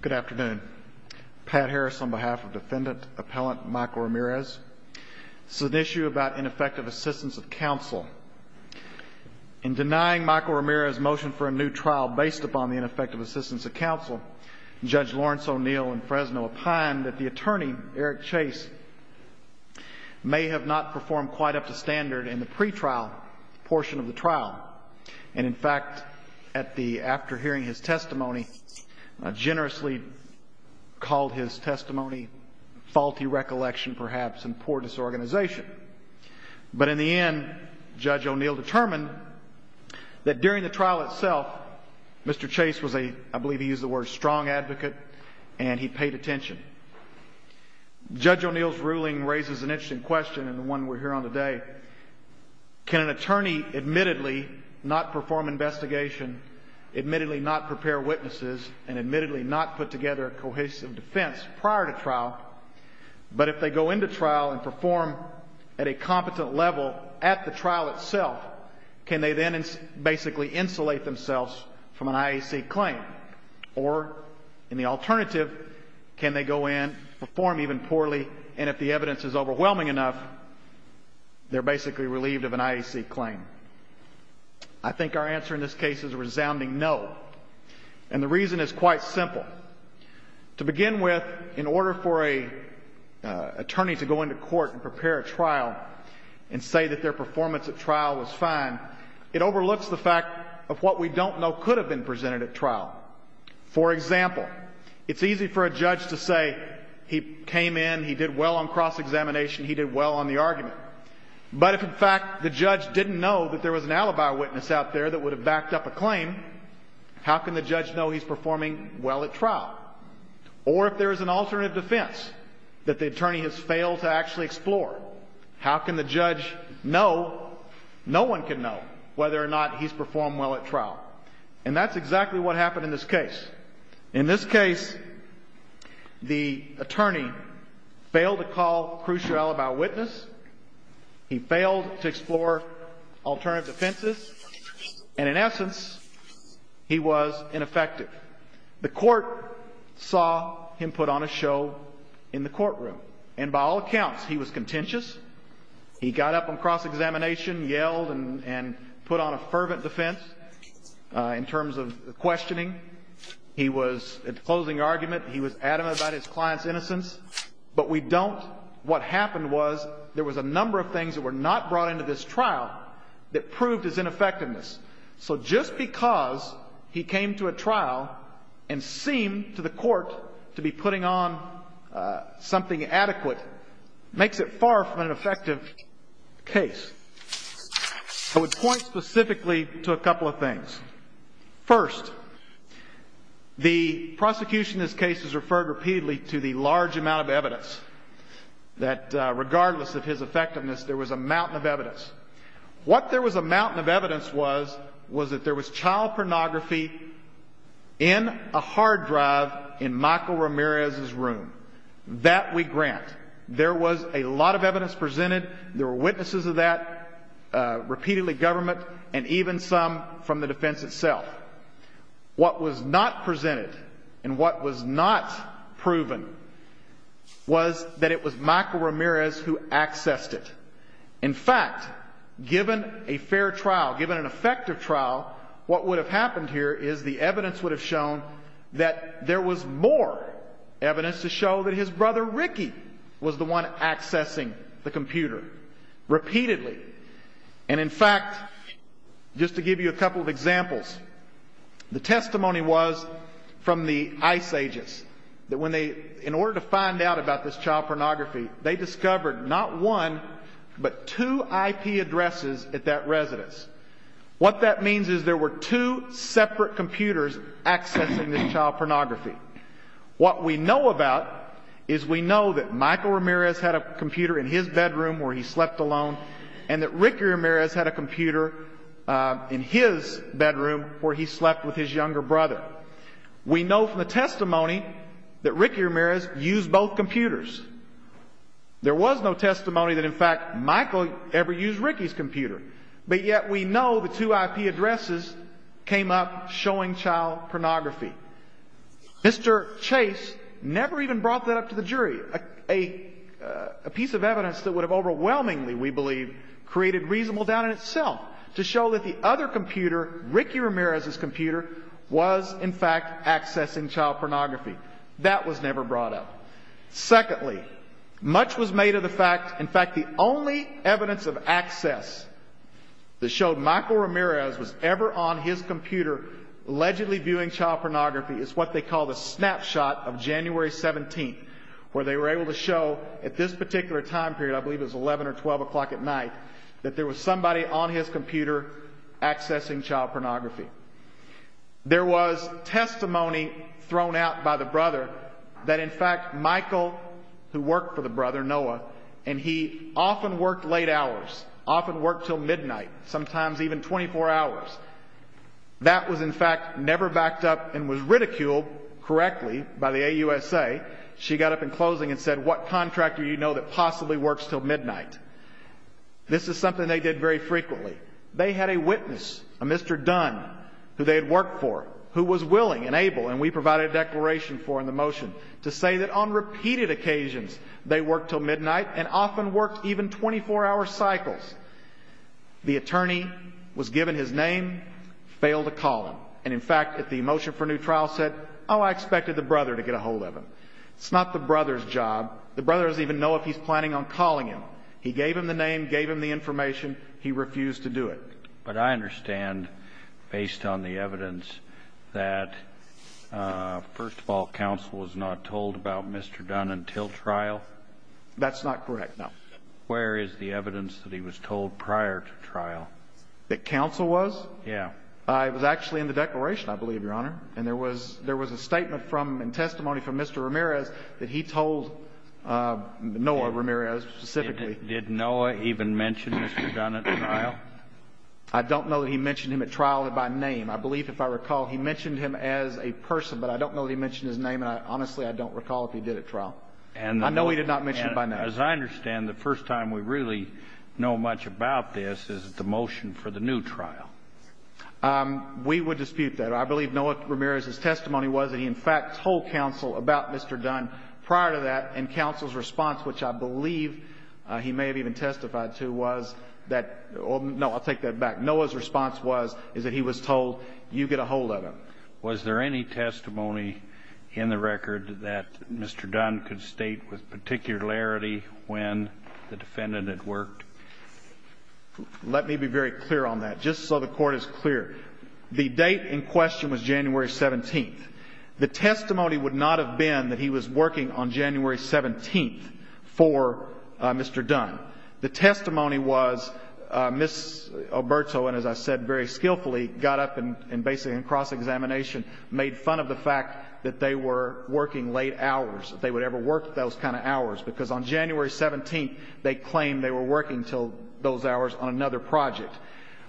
Good afternoon. Pat Harris on behalf of defendant appellant Michael Ramirez. This is an issue about ineffective assistance of counsel. In denying Michael Ramirez's motion for a new trial based upon the ineffective assistance of counsel, Judge Lawrence O'Neill in Fresno opined that the attorney, Eric Chase, may have not performed quite up to standard in the pre-trial portion of the trial. And in fact, after hearing his testimony, I generously called his testimony faulty recollection perhaps and poor disorganization. But in the end, Judge O'Neill determined that during the trial itself, Mr. Chase was a, I believe he used the word, strong advocate and he paid attention. Judge O'Neill's ruling raises an interesting question and the one we're here on today. Can an attorney admittedly not perform investigation, admittedly not prepare witnesses, and admittedly not put together a cohesive defense prior to trial, but if they go into trial and perform at a competent level at the trial itself, can they then basically insulate themselves from an IAC claim? Or in the alternative, can they go in, perform even poorly, and if the evidence is overwhelming enough, they're basically relieved of an IAC claim? I think our answer in this case is a resounding no. And the reason is quite simple. To begin with, in order for an attorney to go into court and prepare a trial and say that their performance at trial was fine, it overlooks the fact of what we don't know could have been presented at trial. For example, it's easy for a judge to say he came in, he did well on cross-examination, he did well on the argument. But if in fact the judge didn't know that there was an alibi witness out there that would have backed up a claim, how can the judge know he's performing well at trial? Or if there is an alternative defense that the attorney has failed to actually explore, how can the judge know, no one can know, whether or not he's performed well at trial? And that's exactly what happened in this case. In this case, the attorney failed to call crucial alibi witness, he failed to explore alternative defenses, and in essence, he was ineffective. The court saw him put on a show in the courtroom. And by all accounts, he was contentious, he got up on cross-examination, yelled, and put on a fervent defense in terms of questioning. He was, at the closing argument, he was adamant about his client's innocence. But we don't, what happened was, there was a number of things that were not brought into this trial that proved his ineffectiveness. So just because he came to a trial and seemed to the court to be putting on something adequate makes it far from an effective case. I would point specifically to a couple of things. First, the prosecution in this case has referred repeatedly to the large amount of evidence that regardless of his effectiveness, there was a mountain of evidence. What there was a mountain of evidence was, was that there was child pornography in a hard drive in Michael Ramirez's home. There was a lot of evidence presented, there were witnesses of that, repeatedly government, and even some from the defense itself. What was not presented, and what was not proven, was that it was Michael Ramirez who accessed it. In fact, given a fair trial, given an effective trial, what would have happened here is the evidence would have shown that there was more evidence to show that his brother, Ricky, was the one accessing the computer, repeatedly. And in fact, just to give you a couple of examples, the testimony was from the ICE agents, that when they, in order to find out about this child pornography, they discovered not one, but two IP addresses at that residence. What that means is there were two separate computers accessing this child pornography. What we know about is we know that Michael Ramirez had a computer in his bedroom where he slept alone, and that Ricky Ramirez had a computer in his bedroom where he slept with his younger brother. We know from the testimony that Ricky Ramirez used both computers. There was no testimony that in fact Michael ever used Ricky's computer. But yet we know the two IP addresses came up showing child pornography. Mr. Chase never even brought that up to the jury, a piece of evidence that would have overwhelmingly, we believe, created reasonable doubt in itself to show that the other computer, Ricky Ramirez's computer, was in fact accessing child pornography. That was never brought up. Secondly, much was made of the fact, in fact, the only evidence of access that showed Michael Ramirez was ever on his computer allegedly viewing child pornography is what they call the snapshot of January 17th, where they were able to show at this particular time period, I believe it was 11 or 12 o'clock at night, that there was somebody on his computer accessing child pornography. There was testimony thrown out by the brother that in fact Michael, who worked for the brother, Noah, and he often worked late hours, often worked till midnight, sometimes even 24 hours. That was in fact never backed up and was ridiculed correctly by the AUSA. She got up in closing and said, what contractor do you know that possibly works till midnight? This is something they did very frequently. They had a witness, a Mr. Dunn, who they had worked for, who was willing and able, and we provided a declaration for in the motion, to say that on repeated occasions they worked till midnight and often worked even 24-hour cycles. The attorney was given his name, failed to call him. And in fact, if the motion for new trial said, oh, I expected the brother to get a hold of him. It's not the brother's job. The brother doesn't even know if he's planning on calling him. He gave him the name, gave him the information. He refused to do it. But I understand, based on the evidence, that, first of all, counsel was not told about Mr. Dunn until trial? That's not correct, no. Where is the evidence that he was told prior to trial? That counsel was? Yes. It was actually in the declaration, I believe, Your Honor. And there was a statement from and testimony from Mr. Ramirez that he told Noah Ramirez specifically. Did Noah even mention Mr. Dunn at trial? I don't know that he mentioned him at trial by name. I believe, if I recall, he mentioned him as a person, but I don't know that he mentioned his name, and honestly, I don't recall if he did at trial. I know he did not mention it by name. As I understand, the first time we really know much about this is the motion for the new trial. We would dispute that. I believe Noah Ramirez's testimony was that he, in fact, told counsel about Mr. Dunn prior to that, and counsel's response, which I believe he may have even testified to, was that, no, I'll take that back, Noah's response was that he was told, you get a hold of him. Was there any testimony in the record that Mr. Dunn could state with particularity when the defendant had worked? Let me be very clear on that, just so the Court is clear. The date in question was January 17th. The testimony would not have been that he was working on January 17th for Mr. Dunn. The testimony was Ms. Alberto, and as I said very skillfully, got up and basically in cross-examination made fun of the fact that they were working late hours, that they would ever work those kind of hours, because on January 17th, they claimed they were working until those hours on another project.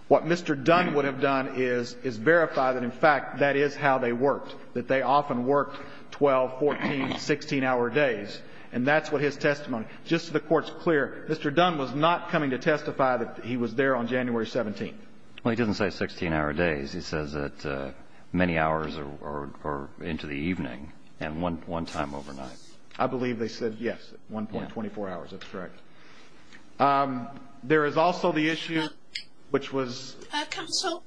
What Mr. Dunn would have done is verify that, in fact, that is how they worked, that they often worked 12, 14, 16-hour days, and that's what his testimony. Just so the Court is clear, Mr. Dunn was not coming to testify that he was there on January 17th. Well, he doesn't say 16-hour days. He says that many hours or into the evening and one time overnight. I believe they said, yes, 1.24 hours. That's correct. There is also the issue, which was... Counsel?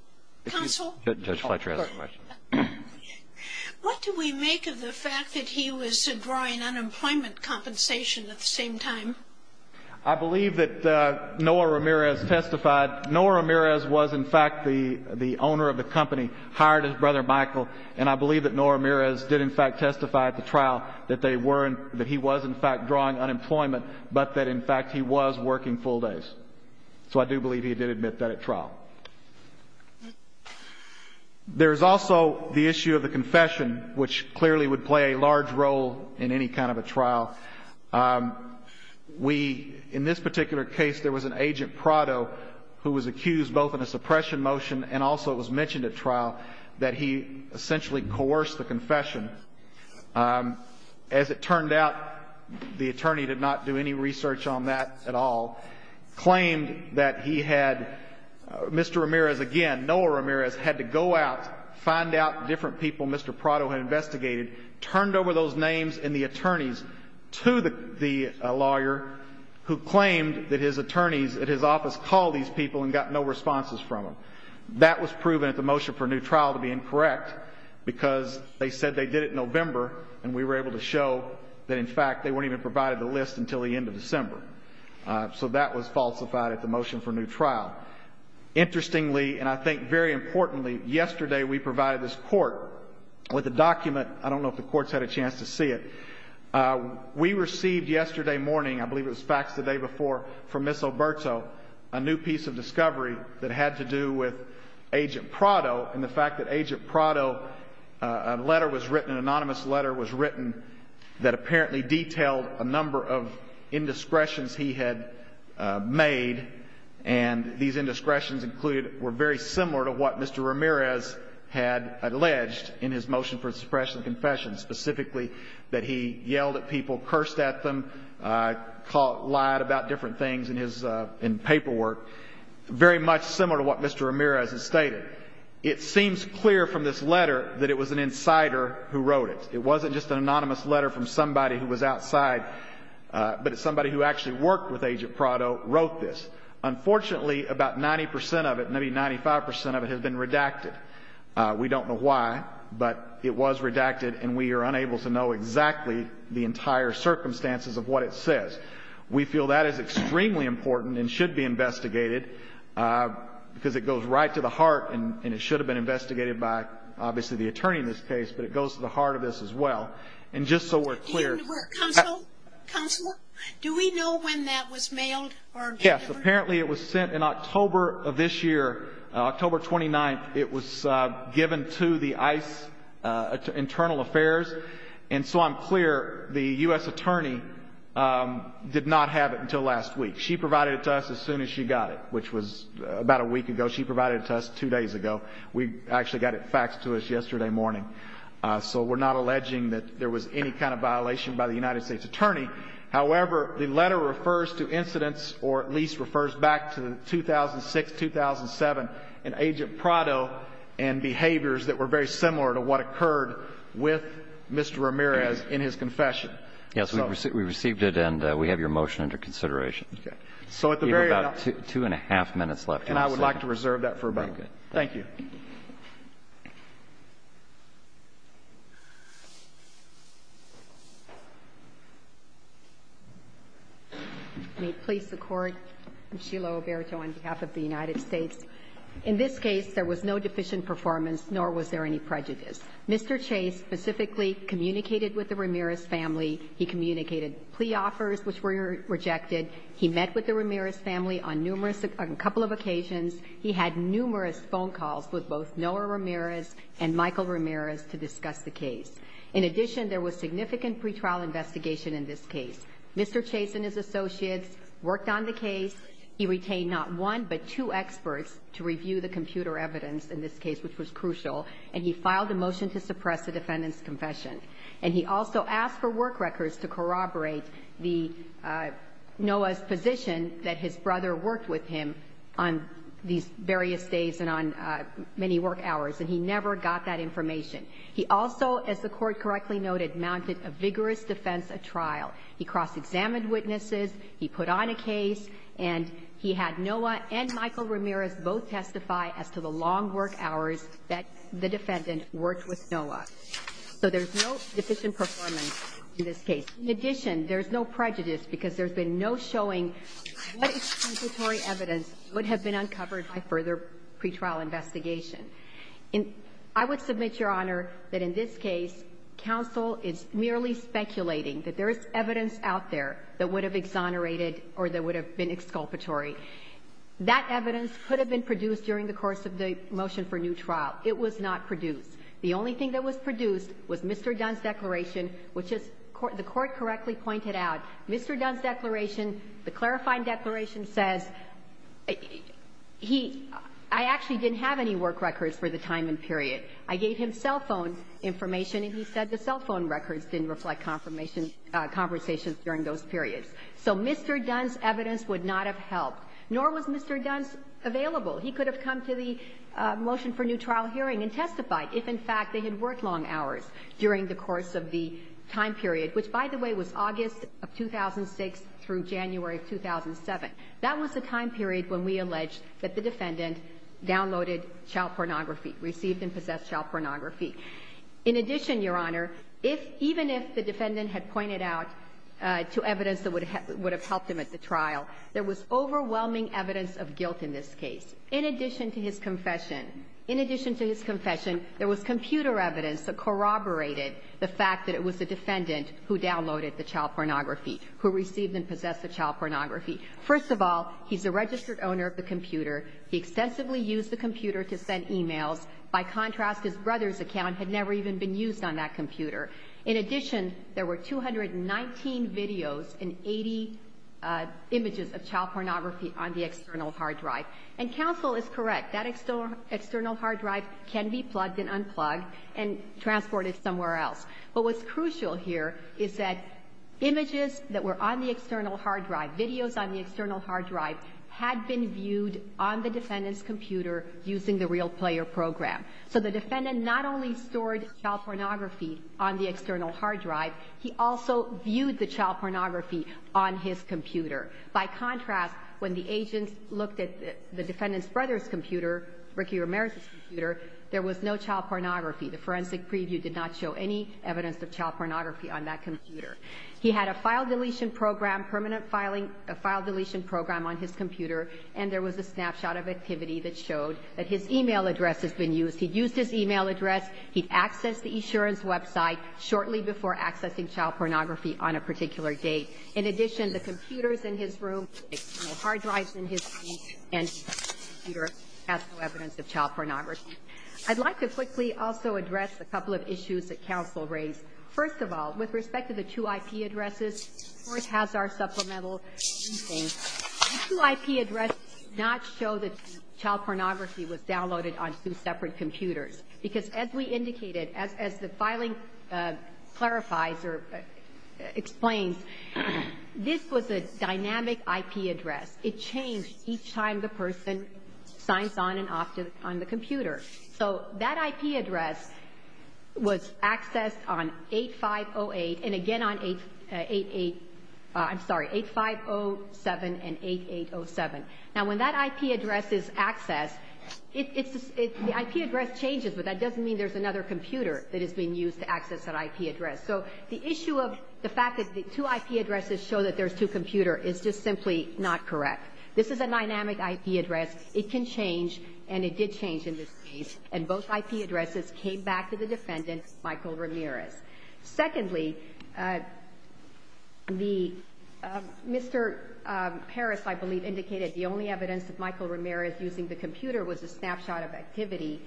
Counsel? Judge Fletcher has a question. What do we make of the fact that he was drawing unemployment compensation at the same time? I believe that Noah Ramirez testified. Noah Ramirez was, in fact, the owner of the company, hired his brother Michael, and I believe that Noah Ramirez did, in fact, testify at the fact he was working full days. So I do believe he did admit that at trial. There is also the issue of the confession, which clearly would play a large role in any kind of a trial. We, in this particular case, there was an agent, Prado, who was accused both in a suppression motion and also it was mentioned at trial that he essentially coerced the confession. As it turned out, the attorney did not do any research on that at all, claimed that he had... Mr. Ramirez, again, Noah Ramirez, had to go out, find out different people Mr. Prado had investigated, turned over those names and the attorneys to the lawyer who claimed that his attorneys at his office called these people and got no responses from them. That was proven at the motion for new trial to be incorrect because they said they did it in November and we were able to show that, in fact, they weren't even provided the list until the end of December. So that was falsified at the motion for new trial. Interestingly, and I think very importantly, yesterday we provided this court with a document. I don't know if the court's had a chance to see it. We received yesterday morning, I believe it was faxed the day before, from Ms. Alberto, a new piece of discovery that had to do with Agent Prado and the fact that Agent Prado, a letter was written, an anonymous letter was written that apparently detailed a number of indiscretions he had made and these indiscretions included, were very similar to what Mr. Ramirez had alleged in his motion for suppression of confession, specifically that he yelled at people, cursed at them, lied about different things in his paperwork, very much similar to what Mr. Ramirez had stated. It seems clear from this letter that it was an insider who wrote it. It wasn't just an anonymous letter from somebody who was outside, but somebody who actually worked with Agent Prado wrote this. Unfortunately, about 90 percent of it, maybe 95 percent of it, has been redacted. We don't know why, but it was redacted and we are unable to know exactly the entire circumstances of what it says. We feel that is extremely important and should be investigated because it goes right to the heart and it should have been investigated by, obviously, the attorney in this case, but it goes to the heart of this as well. And just so we're clear... Counselor, do we know when that was mailed or delivered? Yes, apparently it was sent in October of this year, October 29th. It was given to the ICE Internal Affairs. And so I'm clear, the U.S. attorney did not have it until last week. She provided it to us as soon as she got it, which was about a week ago. She provided it to us two days ago. We actually got it faxed to us yesterday morning. So we're not alleging that there was any kind of violation by the United States attorney. However, the letter refers to incidents or at least refers back to 2006, 2007, in Agent Prado and behaviors that were very similar to what occurred with Mr. Ramirez in his confession. Yes, we received it and we have your motion under consideration. Okay. So at the very... You have about two and a half minutes left. And I would like to reserve that for a moment. Very good. Thank you. May it please the Court. I'm Sheila Oberto on behalf of the United States. In this case, there was no deficient performance, nor was there any prejudice. Mr. Chase specifically communicated with the Ramirez family. He communicated plea offers, which were rejected. He met with the Ramirez family on numerous or a couple of occasions. He had numerous phone calls with both Noah Ramirez and Michael Ramirez to discuss the case. In addition, there was significant pretrial investigation in this case. Mr. Chase and his associates worked on the case. He retained not one but two experts to review the computer evidence in this case, which was crucial. And he filed a motion to suppress the defendant's confession. And he also asked for work records to corroborate the Noah's position that his brother worked with him on these various days and on many work hours. And he never got that information. He also, as the Court correctly noted, mounted a vigorous defense at trial. He cross-examined witnesses. He put on a case. And he had Noah and Michael Ramirez both testify as to the long work hours that the defendant worked with Noah. So there's no deficient performance in this case. In addition, there's no prejudice because there's been no showing what exculpatory evidence would have been uncovered by further pretrial investigation. And I would submit, Your Honor, that in this case, counsel is merely speculating that there is evidence out there that would have exonerated or that would have been exculpatory. That evidence could have been produced during the course of the motion for new trial. It was not produced. The only thing that was produced was Mr. Dunn's declaration, which, as the Court correctly pointed out, Mr. Dunn's declaration, the clarifying declaration says, I actually didn't have any work records for the time and period. I gave him cell phone information, and he said the cell phone records didn't reflect conversations during those periods. So Mr. Dunn's evidence would not have helped, nor was Mr. Dunn's available. He could have come to the motion for new trial hearing and testified if, in fact, they had worked long hours during the course of the time period, which, by the way, was August of 2006 through January of 2007. That was the time period when we alleged that the defendant downloaded child pornography, received and possessed child pornography. In addition, Your Honor, if even if the defendant had pointed out to evidence that would have helped him at the trial, there was overwhelming evidence of guilt in this case. In addition to his confession, in addition to his confession, there was computer evidence that corroborated the fact that it was the defendant who downloaded the child pornography, who received and possessed the child pornography. First of all, he's a registered owner of the computer. He excessively used the computer to send e-mails. By contrast, his brother's account had never even been used on that computer. In addition, there were 219 videos and 80 images of child pornography on the external hard drive. And counsel is correct. That external hard drive can be plugged and unplugged and transported somewhere else. But what's crucial here is that images that were on the external hard drive, videos on the external hard drive, had been viewed on the defendant's computer using the RealPlayer program. So the defendant not only stored child pornography on the external hard drive, he also viewed the child pornography on his computer. By contrast, when the agent looked at the defendant's brother's computer, Ricky Ramirez's computer, there was no child pornography. The forensic preview did not show any evidence of child pornography on that computer. He had a file deletion program, permanent filing, a file deletion program on his computer, and there was a snapshot of activity that showed that his e-mail address has been used. He used his e-mail address. He accessed the insurance website shortly before accessing child pornography on a particular date. In addition, the computers in his room, the external hard drives in his room, and his computer has no evidence of child pornography. I'd like to quickly also address a couple of issues that counsel raised. First of all, with respect to the two IP addresses, the Court has our supplemental briefing. The two IP addresses do not show that child pornography was downloaded on two separate computers, because as we indicated, as the filing clarifies or explains, this was a dynamic IP address. It changed each time the person signs on and off on the computer. So that IP address was accessed on 8508 and again on 8807 and 8807. Now, when that IP address is accessed, the IP address changes, but that doesn't mean there's another computer that is being used to access that IP address. So the issue of the fact that the two IP addresses show that there's two computers is just simply not correct. This is a dynamic IP address. It can change, and it did change in this case. And both IP addresses came back to the defendant, Michael Ramirez. Secondly, the Mr. Harris, I believe, indicated the only evidence of Michael Ramirez using the computer was a snapshot of activity.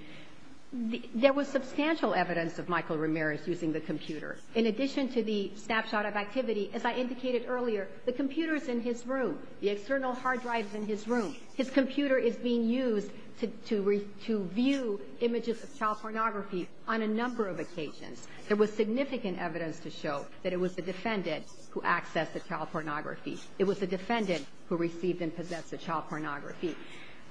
There was substantial evidence of Michael Ramirez using the computer. In addition to the snapshot of activity, as I indicated earlier, the computer is in his room. The external hard drive is in his room. His computer is being used to view images of child pornography on a number of occasions. There was significant evidence to show that it was the defendant who accessed the child pornography. It was the defendant who received and possessed the child pornography.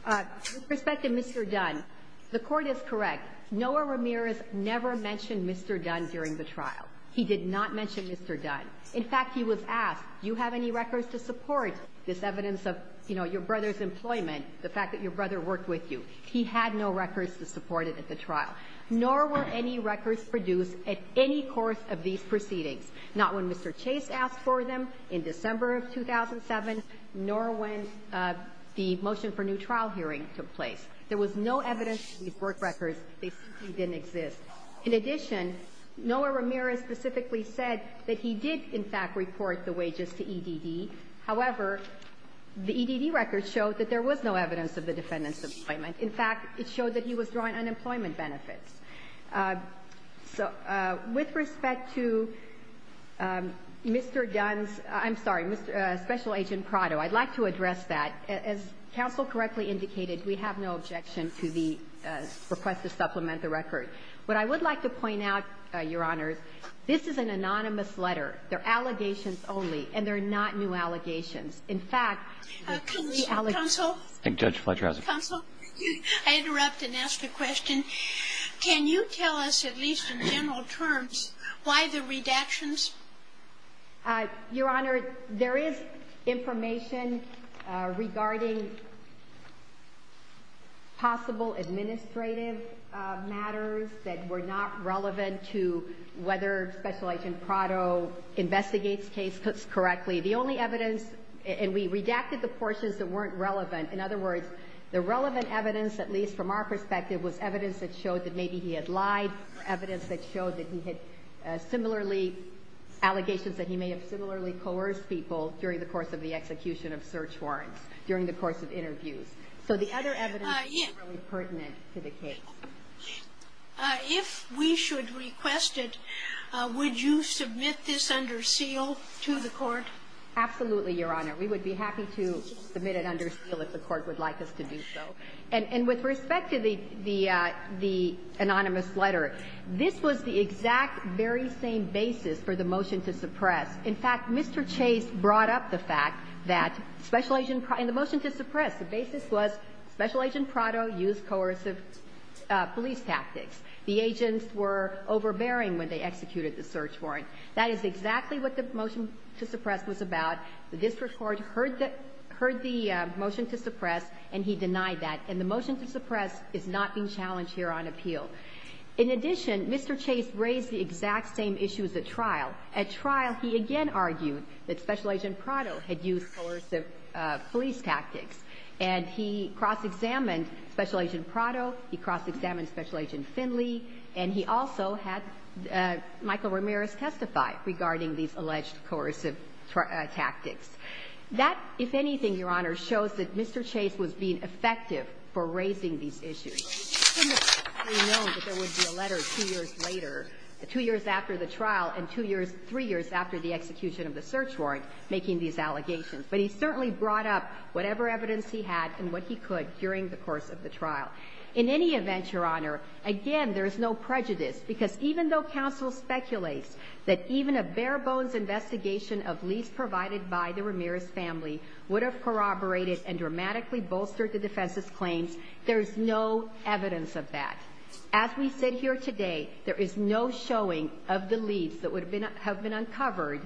With respect to Mr. Dunn, the Court is correct. Noah Ramirez never mentioned Mr. Dunn during the trial. He did not mention Mr. Dunn. In fact, he was asked, do you have any records to support this evidence of, you know, your brother's employment, the fact that your brother worked with you. He had no records to support it at the trial, nor were any records produced at any course of these proceedings, not when Mr. Chase asked for them in December of 2007, nor when the motion for new trial hearing took place. There was no evidence to these work records. They simply didn't exist. In addition, Noah Ramirez specifically said that he did, in fact, report the wages to EDD. However, the EDD records showed that there was no evidence of the defendant's employment. In fact, it showed that he was drawing unemployment benefits. So with respect to Mr. Dunn's — I'm sorry, Special Agent Prado, I'd like to address that. As counsel correctly indicated, we have no objection to the request to supplement the record. What I would like to point out, Your Honor, this is an anonymous letter. They're allegations only, and they're not new allegations. In fact, the allegations — Counsel? Counsel, I interrupt and ask a question. Can you tell us, at least in general terms, why the redactions? Your Honor, there is information regarding possible administrative matters that were not relevant to whether Special Agent Prado investigates cases correctly. The only evidence — and we redacted the portions that weren't relevant. In other words, the relevant evidence, at least from our perspective, was evidence that showed that maybe he had lied, evidence that showed that he had similarly — allegations that he may have similarly coerced people during the course of the execution of search warrants, during the course of interviews. So the other evidence isn't really pertinent to the case. If we should request it, would you submit this under seal to the Court? Absolutely, Your Honor. We would be happy to submit it under seal if the Court would like us to do so. And with respect to the anonymous letter, this was the exact very same basis for the motion to suppress. In fact, Mr. Chase brought up the fact that Special Agent — in the motion to suppress, the basis was Special Agent Prado used coercive police tactics. The agents were overbearing when they executed the search warrant. That is exactly what the motion to suppress was about. The district court heard the — heard the motion to suppress, and he denied that. And the motion to suppress is not being challenged here on appeal. In addition, Mr. Chase raised the exact same issues at trial. At trial, he again argued that Special Agent Prado had used coercive police tactics. And he cross-examined Special Agent Prado. He cross-examined Special Agent Finley. And he also had Michael Ramirez testify regarding these alleged coercive tactics. That, if anything, Your Honor, shows that Mr. Chase was being effective for raising these issues. We know that there would be a letter two years later, two years after the trial, and two years — three years after the execution of the search warrant making these allegations. But he certainly brought up whatever evidence he had and what he could during the course of the trial. In any event, Your Honor, again, there is no prejudice, because even though counsel speculates that even a bare-bones investigation of leads provided by the Ramirez family would have corroborated and dramatically bolstered the defense's claims, there is no evidence of that. As we sit here today, there is no showing of the leads that would have been uncovered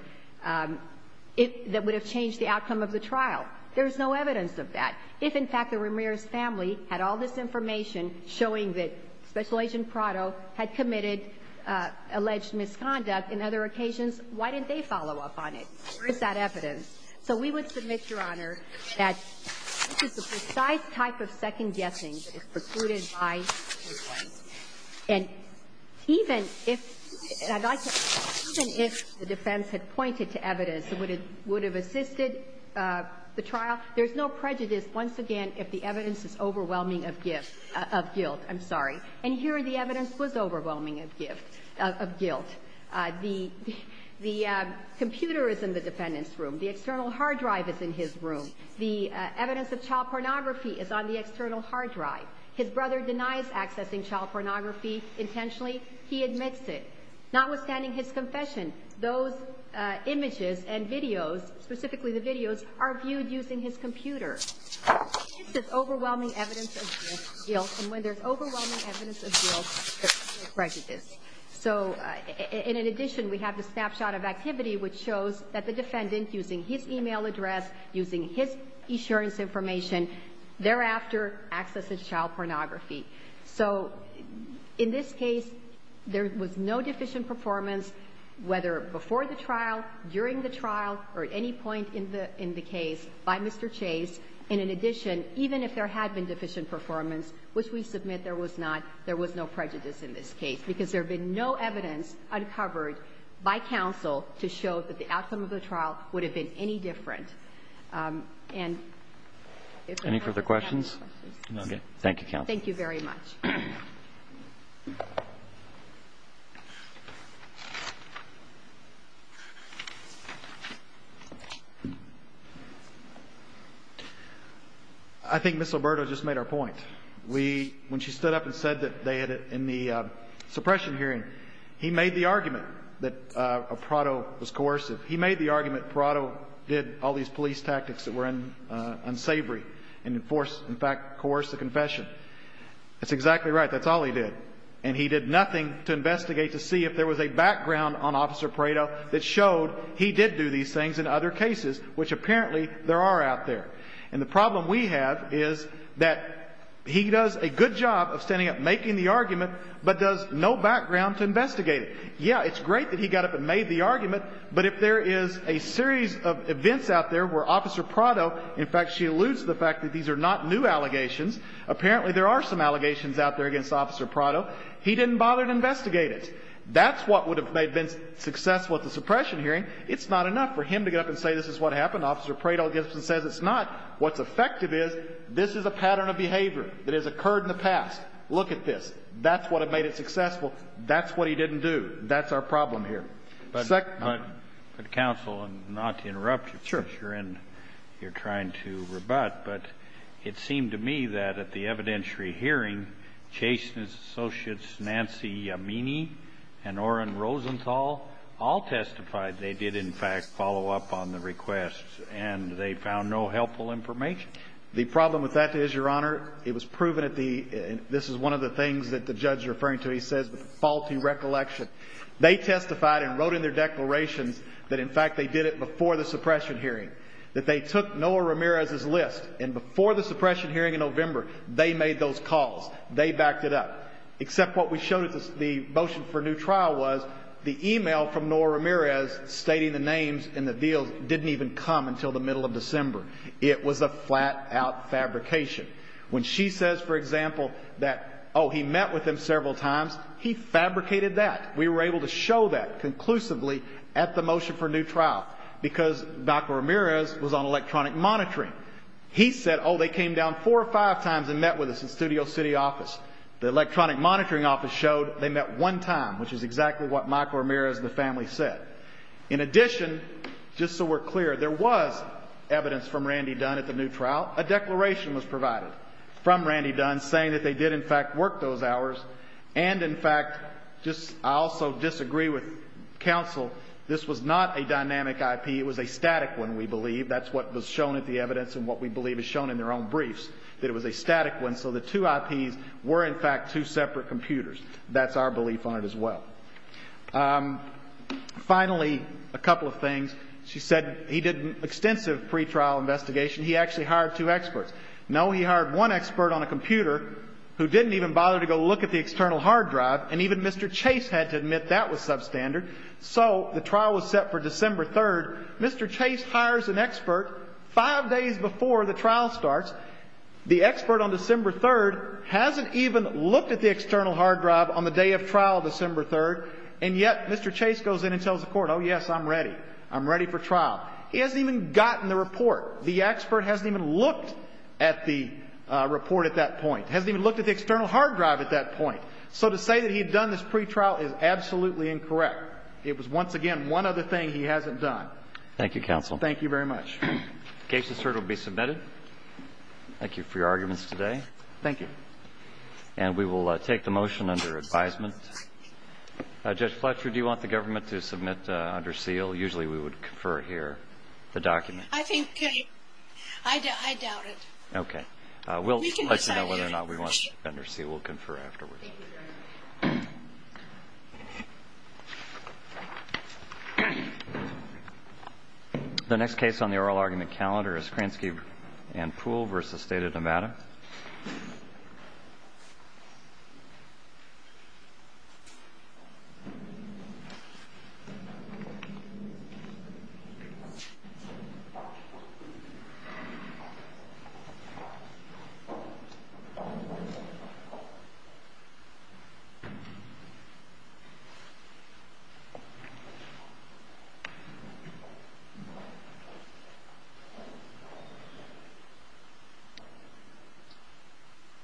if — that would have changed the outcome of the trial. There is no evidence of that. If, in fact, the Ramirez family had all this information showing that Special Agent Prado had committed alleged misconduct in other occasions, why didn't they follow up on it? Where is that evidence? So we would submit, Your Honor, that this is the precise type of second-guessing that is precluded by the defense. And even if — and I'd like to — even if the defense had pointed to evidence that would have assisted the trial, there's no prejudice, once again, if the evidence is overwhelming of guilt. I'm sorry. And here the evidence was overwhelming of guilt. The computer is in the defendant's room. The external hard drive is in his room. The evidence of child pornography is on the external hard drive. His brother denies accessing child pornography intentionally. He admits it. Notwithstanding his confession, those images and videos, specifically the videos, are viewed using his computer. This is overwhelming evidence of guilt. And when there's overwhelming evidence of guilt, there's prejudice. So, in addition, we have the snapshot of activity, which shows that the defendant, using his email address, using his insurance information, thereafter, accesses child pornography. So, in this case, there was no deficient performance, whether before the trial, during the trial, or at any point in the — in the case, by Mr. Chase. And, in addition, even if there had been deficient performance, which we submit there was not, there was no prejudice in this case, because there had been no evidence uncovered by counsel to show that the outcome of the trial would have been any different. And if I may ask a question. Roberts. Thank you, counsel. Thank you very much. I think Ms. Alberto just made her point. We, when she stood up and said that they had, in the suppression hearing, he made the argument that Prado was coercive. He made the argument Prado did all these police tactics that were unsavory and enforced, in fact, coercive confession. That's exactly right. That's all he did. And he did nothing to investigate to see if there was a background on Officer Prado that showed he did do these things in other cases, which apparently there are out there. And the problem we have is that he does a good job of standing up and making the argument, but does no background to investigate it. Yes, it's great that he got up and made the argument, but if there is a series of events out there where Officer Prado, in fact, she alludes to the fact that these are not new allegations. Apparently, there are some allegations out there against Officer Prado. He didn't bother to investigate it. That's what would have made it successful at the suppression hearing. It's not enough for him to get up and say this is what happened. Officer Prado gets up and says it's not. What's effective is this is a pattern of behavior that has occurred in the past. Look at this. That's what made it successful. That's what he didn't do. That's our problem here. The second point. But, counsel, not to interrupt you. Sure. You're trying to rebut, but it seemed to me that at the evidentiary hearing, Chase and his associates, Nancy Yamini and Oren Rosenthal, all testified they did, in fact, follow up on the request, and they found no helpful information. The problem with that is, Your Honor, it was proven at the – this is one of the things that the judge is referring to. He says the faulty recollection. They testified and wrote in their declarations that, in fact, they did it before the suppression hearing, that they took Noah Ramirez's list, and before the suppression hearing in November, they made those calls. They backed it up. Except what we showed at the motion for new trial was the email from Noah Ramirez stating the names and the deals didn't even come until the middle of December. It was a flat-out fabrication. When she says, for example, that, oh, he met with him several times, he fabricated that. We were able to show that conclusively at the motion for new trial. Because Michael Ramirez was on electronic monitoring. He said, oh, they came down four or five times and met with us in studio city office. The electronic monitoring office showed they met one time, which is exactly what Michael Ramirez and the family said. In addition, just so we're clear, there was evidence from Randy Dunn at the new trial. A declaration was provided from Randy Dunn saying that they did, in fact, work those hours. And, in fact, I also disagree with counsel, this was not a dynamic IP. It was a static one, we believe. That's what was shown at the evidence and what we believe is shown in their own briefs, that it was a static one. So the two IPs were, in fact, two separate computers. That's our belief on it as well. Finally, a couple of things. He actually hired two experts. No, he hired one expert on a computer who didn't even bother to go look at the external hard drive and even Mr. Chase had to admit that was substandard. So the trial was set for December 3rd. Mr. Chase hires an expert five days before the trial starts. The expert on December 3rd hasn't even looked at the external hard drive on the day of trial, December 3rd. And yet Mr. Chase goes in and tells the court, oh, yes, I'm ready. I'm ready for trial. He hasn't even gotten the report. The expert hasn't even looked at the report at that point. Hasn't even looked at the external hard drive at that point. So to say that he had done this pretrial is absolutely incorrect. It was, once again, one other thing he hasn't done. Thank you, counsel. Thank you very much. The case is heard and will be submitted. Thank you for your arguments today. Thank you. And we will take the motion under advisement. Judge Fletcher, do you want the government to submit under seal? Usually we would confer here the document. I think I doubt it. Okay. We'll let you know whether or not we want under seal. We'll confer afterwards. Thank you very much. The next case on the oral argument calendar is Kransky and Poole v. State of Nevada. Thank you very much.